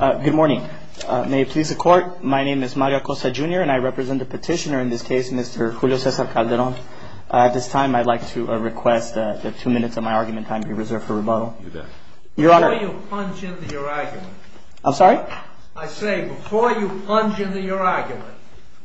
Good morning. May it please the court, my name is Mario Acosta Jr. and I represent the petitioner in this case, Mr. Julio Cesar Calderon. At this time, I'd like to request that two minutes of my argument time be reserved for rebuttal. Before you plunge into your argument, I say before you plunge into your argument,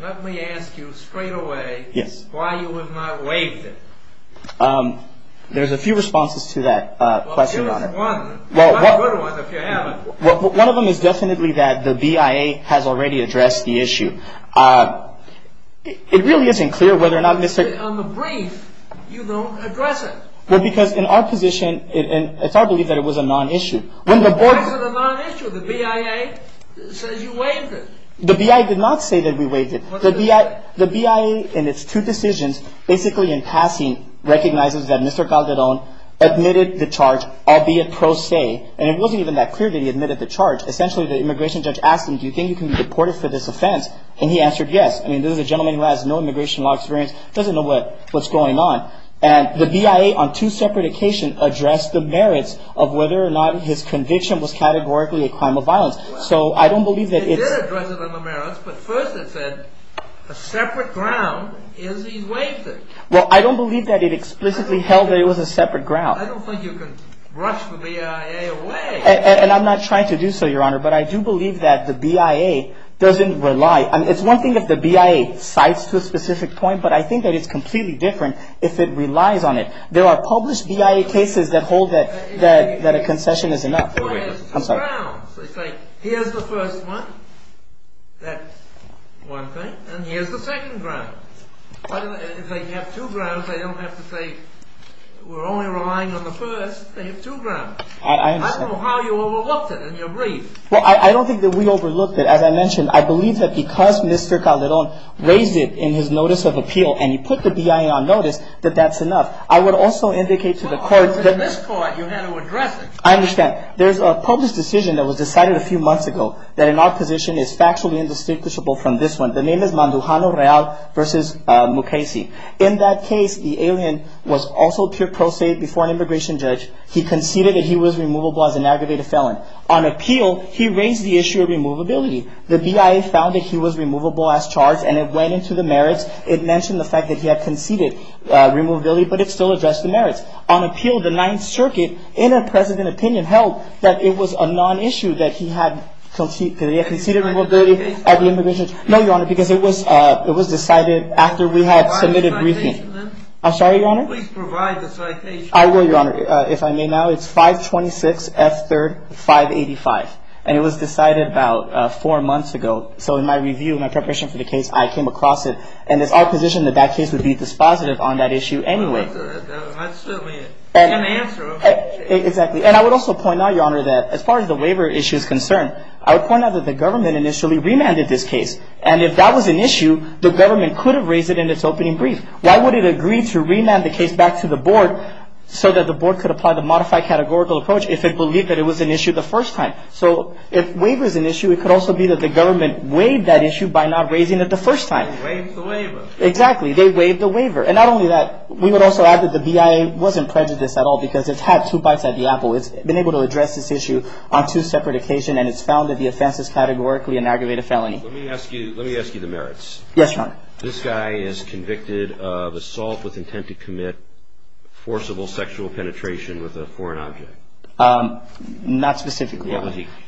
let me ask you straight away why you have not waived it. There's a few responses to that question, Your Honor. Well, give us one. Not a good one if you haven't. One of them is definitely that the BIA has already addressed the issue. It really isn't clear whether or not Mr. On the brief, you don't address it. Well, because in our position, it's our belief that it was a non-issue. Why is it a non-issue? The BIA says you waived it. The BIA did not say that we waived it. The BIA, in its two decisions, basically in passing, recognizes that Mr. Calderon admitted the charge, albeit pro se. And it wasn't even that clear that he admitted the charge. Essentially, the immigration judge asked him, do you think you can be deported for this offense? And he answered yes. I mean, this is a gentleman who has no immigration law experience, doesn't know what's going on. And the BIA, on two separate occasions, addressed the merits of whether or not his conviction was categorically a crime of violence. So I don't believe that it's. It did address the merits, but first it said a separate ground is he waived it. Well, I don't believe that it explicitly held that it was a separate ground. I don't think you can rush the BIA away. And I'm not trying to do so, Your Honor, but I do believe that the BIA doesn't rely. It's one thing if the BIA cites to a specific point, but I think that it's completely different if it relies on it. There are published BIA cases that hold that a concession is enough. I'm sorry. Here's the first one, that one thing, and here's the second ground. If they have two grounds, they don't have to say we're only relying on the first. They have two grounds. I understand. I don't know how you overlooked it in your brief. Well, I don't think that we overlooked it. As I mentioned, I believe that because Mr. Calderon raised it in his notice of appeal and he put the BIA on notice, that that's enough. I would also indicate to the court that. In this court, you had to address it. I understand. There's a published decision that was decided a few months ago that in our position is factually indistinguishable from this one. The name is Mandujano Real v. Mukasey. In that case, the alien was also pure pro se before an immigration judge. He conceded that he was removable as an aggravated felon. On appeal, he raised the issue of removability. The BIA found that he was removable as charged, and it went into the merits. It mentioned the fact that he had conceded removability, but it still addressed the merits. On appeal, the Ninth Circuit, in a president opinion, held that it was a non-issue that he had conceded removability at the immigration. No, Your Honor, because it was decided after we had submitted briefing. I'm sorry, Your Honor. Please provide the citation. I will, Your Honor, if I may now. It's 526 F. 3rd 585, and it was decided about four months ago. So in my review, in my preparation for the case, I came across it, and it's our position that that case would be dispositive on that issue anyway. That's certainly an answer. Exactly, and I would also point out, Your Honor, that as far as the waiver issue is concerned, I would point out that the government initially remanded this case, and if that was an issue, the government could have raised it in its opening brief. Why would it agree to remand the case back to the board so that the board could apply the modified categorical approach if it believed that it was an issue the first time? So if waiver is an issue, it could also be that the government waived that issue by not raising it the first time. Waived the waiver. Exactly. They waived the waiver. And not only that, we would also add that the BIA wasn't prejudiced at all because it's had two bites at the apple. It's been able to address this issue on two separate occasions, and it's found that the offense is categorically an aggravated felony. Let me ask you the merits. Yes, Your Honor. This guy is convicted of assault with intent to commit forcible sexual penetration with a foreign object. Not specifically. I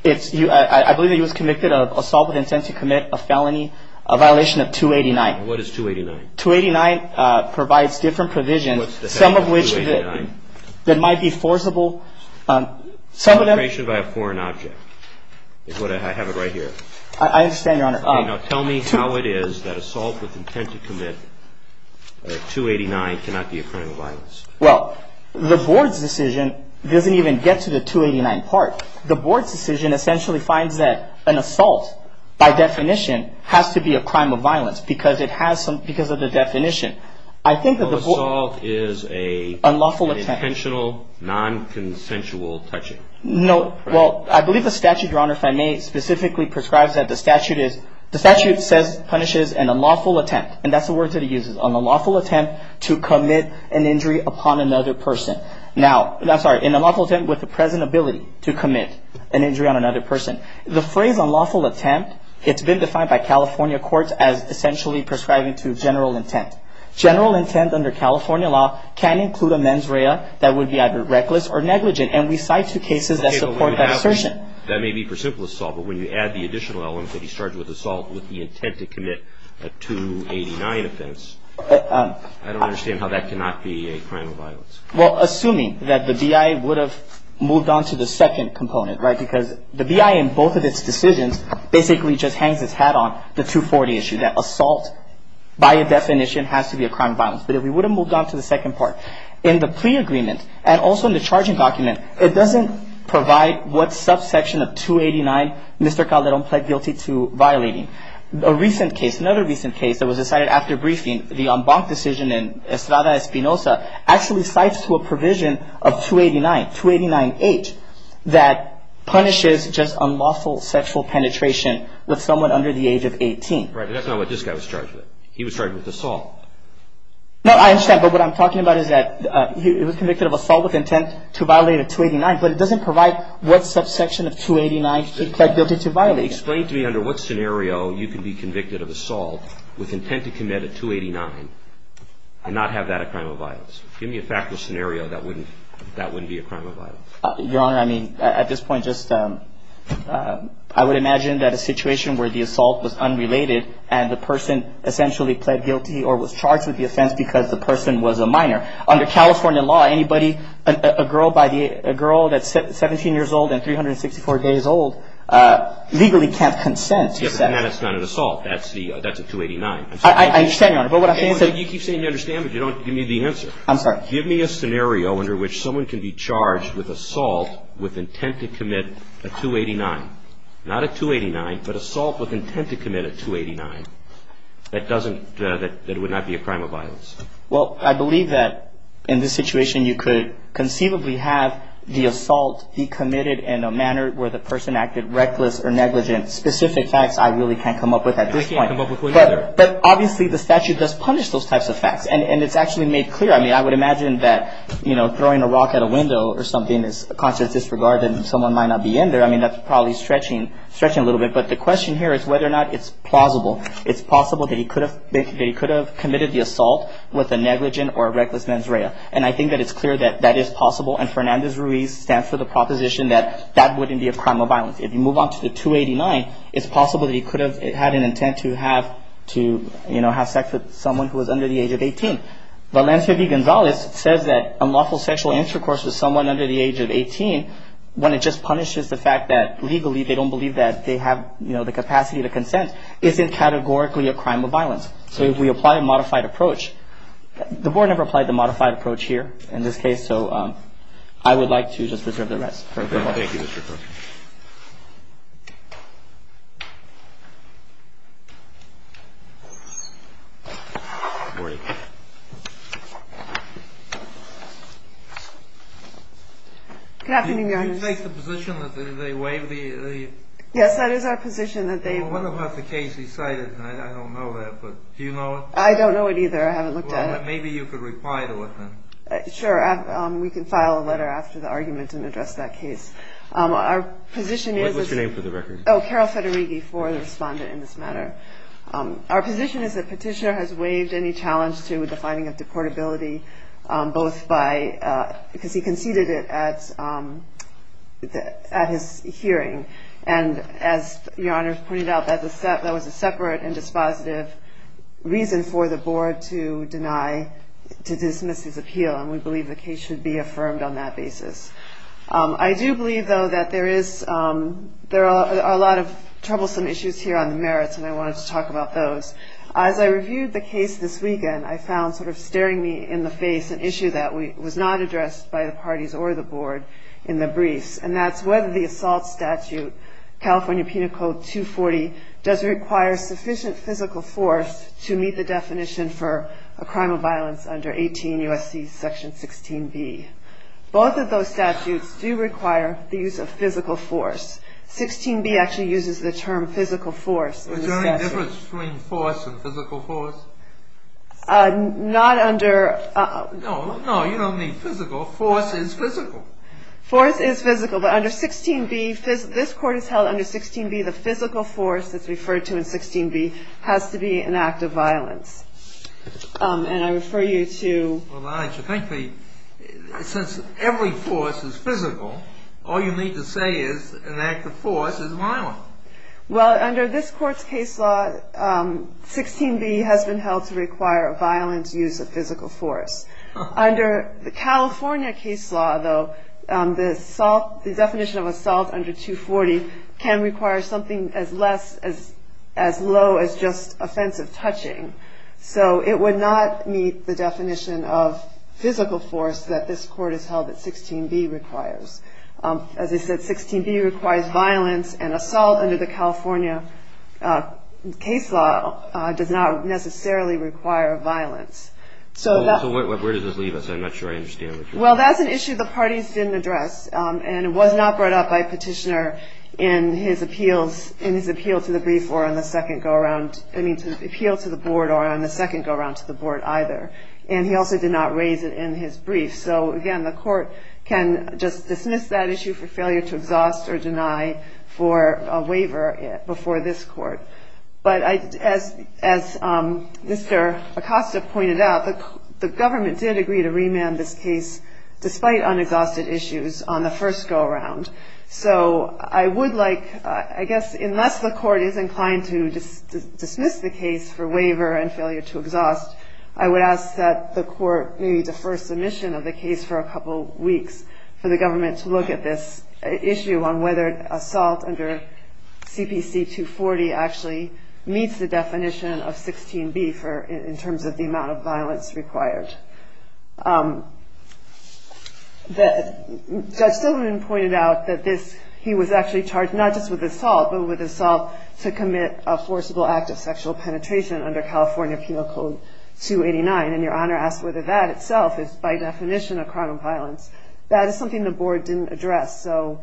believe that he was convicted of assault with intent to commit a felony, a violation of 289. What is 289? 289 provides different provisions, some of which that might be forcible. Penetration by a foreign object is what I have it right here. I understand, Your Honor. Tell me how it is that assault with intent to commit 289 cannot be a crime of violence. Well, the board's decision doesn't even get to the 289 part. The board's decision essentially finds that an assault, by definition, has to be a crime of violence because of the definition. An assault is an intentional, nonconsensual touching. No. Well, I believe the statute, Your Honor, if I may, specifically prescribes that the statute is, the statute punishes an unlawful attempt, and that's the word that it uses, an unlawful attempt to commit an injury upon another person. Now, I'm sorry, an unlawful attempt with the present ability to commit an injury on another person. The phrase unlawful attempt, it's been defined by California courts as essentially prescribing to general intent. General intent under California law can include a mens rea that would be either reckless or negligent, and we cite two cases that support that assertion. That may be for simple assault, but when you add the additional element that he's charged with assault with the intent to commit a 289 offense, I don't understand how that cannot be a crime of violence. Well, assuming that the BI would have moved on to the second component, right, and both of its decisions basically just hangs its hat on the 240 issue, that assault by definition has to be a crime of violence. But if we would have moved on to the second part, in the plea agreement and also in the charging document, it doesn't provide what subsection of 289 Mr. Calderon pled guilty to violating. A recent case, another recent case that was decided after briefing, the en banc decision in Estrada Espinoza actually cites to a provision of 289, 289H, that punishes just unlawful sexual penetration with someone under the age of 18. Right, but that's not what this guy was charged with. He was charged with assault. No, I understand. But what I'm talking about is that he was convicted of assault with intent to violate a 289, but it doesn't provide what subsection of 289 he pled guilty to violating. Explain to me under what scenario you can be convicted of assault with intent to commit a 289 and not have that a crime of violence. Give me a factual scenario that wouldn't be a crime of violence. Your Honor, I mean, at this point just I would imagine that a situation where the assault was unrelated and the person essentially pled guilty or was charged with the offense because the person was a minor. Under California law, anybody, a girl that's 17 years old and 364 days old legally can't consent. Yes, but that's not an assault. That's a 289. I understand, Your Honor, but what I'm saying is that You keep saying you understand, but you don't give me the answer. I'm sorry. Give me a scenario under which someone can be charged with assault with intent to commit a 289. Not a 289, but assault with intent to commit a 289 that doesn't, that would not be a crime of violence. Well, I believe that in this situation you could conceivably have the assault be committed in a manner where the person acted reckless or negligent. Specific facts I really can't come up with at this point. I can't come up with one either. But obviously the statute does punish those types of facts, and it's actually made clear. I mean, I would imagine that, you know, throwing a rock at a window or something is a conscious disregard and someone might not be in there. I mean, that's probably stretching a little bit. But the question here is whether or not it's plausible. It's possible that he could have committed the assault with a negligent or a reckless mens rea. And I think that it's clear that that is possible. And Fernandez-Ruiz stands for the proposition that that wouldn't be a crime of violence. If you move on to the 289, it's possible that he could have had an intent to have, you know, have sex with someone who was under the age of 18. Valencia V. Gonzalez says that unlawful sexual intercourse with someone under the age of 18, when it just punishes the fact that legally they don't believe that they have, you know, the capacity to consent, isn't categorically a crime of violence. So if we apply a modified approach, the board never applied the modified approach here in this case, so I would like to just reserve the rest. Thank you, Mr. Cook. Good morning. Good afternoon, Your Honor. Did you take the position that they waived the? Yes, that is our position that they. Well, what about the case he cited? I don't know that, but do you know it? I don't know it either. I haven't looked at it. Well, maybe you could reply to it then. Sure, we can file a letter after the argument and address that case. Our position is. What's your name for the record? Oh, Carol Federighi for the respondent in this matter. Our position is that Petitioner has waived any challenge to the finding of deportability, both by, because he conceded it at his hearing, and as Your Honor pointed out, that was a separate and dispositive reason for the board to deny, to dismiss his appeal, and we believe the case should be affirmed on that basis. I do believe, though, that there are a lot of troublesome issues here on the merits, and I wanted to talk about those. As I reviewed the case this weekend, I found sort of staring me in the face an issue that was not addressed by the parties or the board in the briefs, and that's whether the assault statute, California Penal Code 240, does require sufficient physical force to meet the definition for a crime of violence under 18 U.S.C. Section 16b. Both of those statutes do require the use of physical force. 16b actually uses the term physical force. Is there any difference between force and physical force? Not under. No, no, you don't mean physical. Force is physical. Force is physical, but under 16b, this court has held under 16b, the physical force that's referred to in 16b has to be an act of violence. And I refer you to... Well, I think that since every force is physical, all you need to say is an act of force is violent. Well, under this court's case law, 16b has been held to require a violent use of physical force. Under the California case law, though, the definition of assault under 240 can require something as low as just offensive touching. So it would not meet the definition of physical force that this court has held that 16b requires. As I said, 16b requires violence, and assault under the California case law does not necessarily require violence. So where does this leave us? I'm not sure I understand what you're saying. Well, that's an issue the parties didn't address, and it was not brought up by Petitioner in his appeal to the brief or on the second go-around. I mean, appeal to the board or on the second go-around to the board either. And he also did not raise it in his brief. So, again, the court can just dismiss that issue for failure to exhaust or deny for a waiver before this court. But as Mr. Acosta pointed out, the government did agree to remand this case despite unexhausted issues on the first go-around. So I would like, I guess, unless the court is inclined to dismiss the case for waiver and failure to exhaust, I would ask that the court maybe defer submission of the case for a couple weeks for the government to look at this issue on whether assault under CPC 240 actually meets the definition of 16B in terms of the amount of violence required. Judge Silverman pointed out that he was actually charged not just with assault, but with assault to commit a forcible act of sexual penetration under California Penal Code 289, and Your Honor asked whether that itself is by definition a crime of violence. That is something the board didn't address. So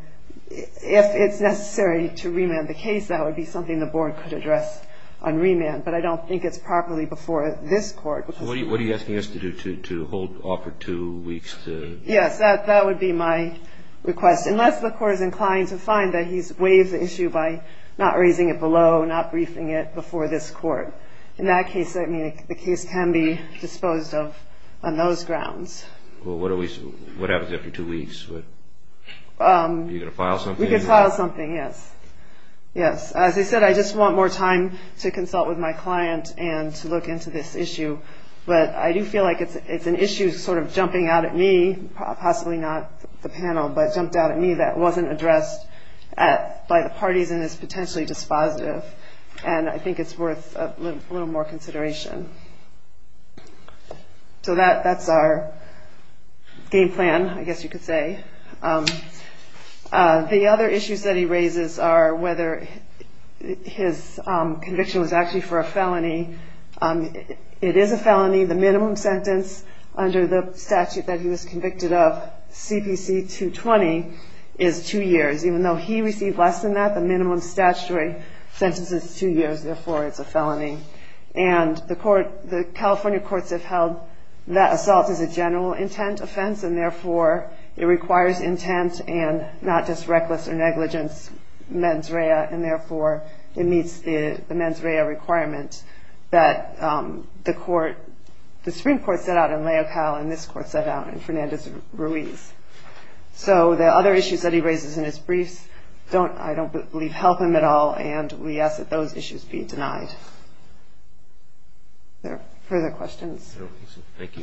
if it's necessary to remand the case, that would be something the board could address on remand. But I don't think it's properly before this court. What are you asking us to do, to hold off for two weeks? Yes, that would be my request, unless the court is inclined to find that he's waived the issue by not raising it below, not briefing it before this court. In that case, the case can be disposed of on those grounds. Well, what happens after two weeks? Are you going to file something? We could file something, yes. Yes. As I said, I just want more time to consult with my client and to look into this issue. But I do feel like it's an issue sort of jumping out at me, possibly not the panel, but jumped out at me that wasn't addressed by the parties and is potentially dispositive, and I think it's worth a little more consideration. So that's our game plan, I guess you could say. The other issues that he raises are whether his conviction was actually for a felony. It is a felony. The minimum sentence under the statute that he was convicted of, CPC 220, is two years. Even though he received less than that, the minimum statutory sentence is two years. Therefore, it's a felony. And the California courts have held that assault is a general intent offense, and therefore it requires intent and not just reckless or negligence mens rea, and therefore it meets the mens rea requirement that the Supreme Court set out in Leocal and this court set out in Fernandez-Ruiz. So the other issues that he raises in his briefs I don't believe help him at all, and we ask that those issues be denied. Are there further questions? Thank you.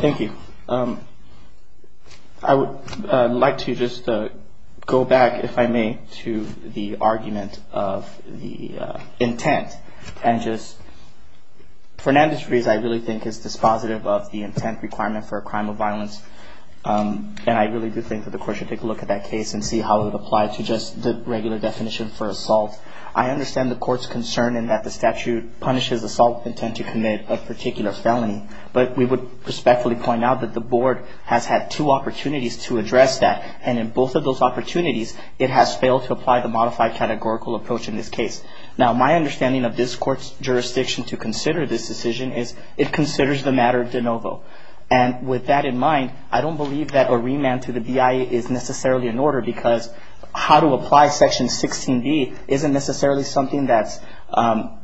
Thank you. I would like to just go back, if I may, to the argument of the intent. Fernandez-Ruiz, I really think, is dispositive of the intent requirement for a crime of violence, and I really do think that the court should take a look at that case and see how it would apply to just the regular definition for assault. I understand the court's concern in that the statute punishes assault with intent to commit a particular felony, but we would respectfully point out that the board has had two opportunities to address that, and in both of those opportunities, it has failed to apply the modified categorical approach in this case. Now, my understanding of this court's jurisdiction to consider this decision is it considers the matter de novo, and with that in mind, I don't believe that a remand to the BIA is necessarily an order because how to apply Section 16B isn't necessarily something that's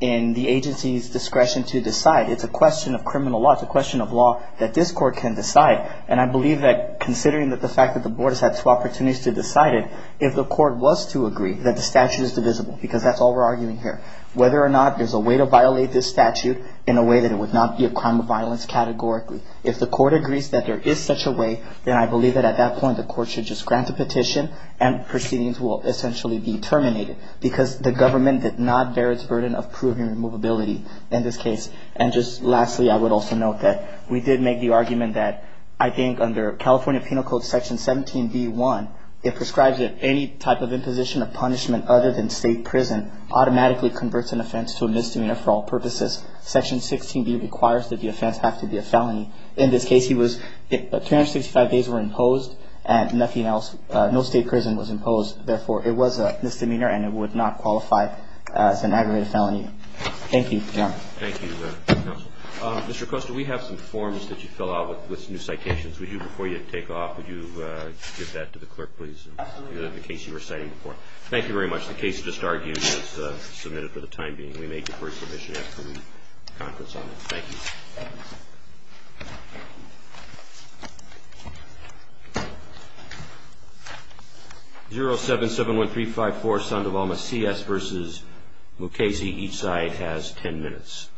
in the agency's discretion to decide. It's a question of criminal law. It's a question of law that this court can decide, and I believe that considering the fact that the board has had two opportunities to decide it, if the court was to agree that the statute is divisible, because that's all we're arguing here, whether or not there's a way to violate this statute in a way that it would not be a crime of violence categorically. If the court agrees that there is such a way, then I believe that at that point, the court should just grant the petition and proceedings will essentially be terminated because the government did not bear its burden of proving removability in this case. And just lastly, I would also note that we did make the argument that I think under California Penal Code Section 17B.1, it prescribes that any type of imposition of punishment other than state prison automatically converts an offense to a misdemeanor for all purposes. Section 16B requires that the offense have to be a felony. In this case, 265 days were imposed and nothing else, no state prison was imposed. Therefore, it was a misdemeanor and it would not qualify as an aggravated felony. Thank you. Thank you, counsel. Mr. Costa, we have some forms that you fill out with new citations. Would you, before you take off, would you give that to the clerk, please, in the case you were citing before? Thank you very much. The case just argued was submitted for the time being. We made deferred submission after the conference on it. Thank you. 0771354, Sandoval Macias versus Mukasey. Each side has 10 minutes.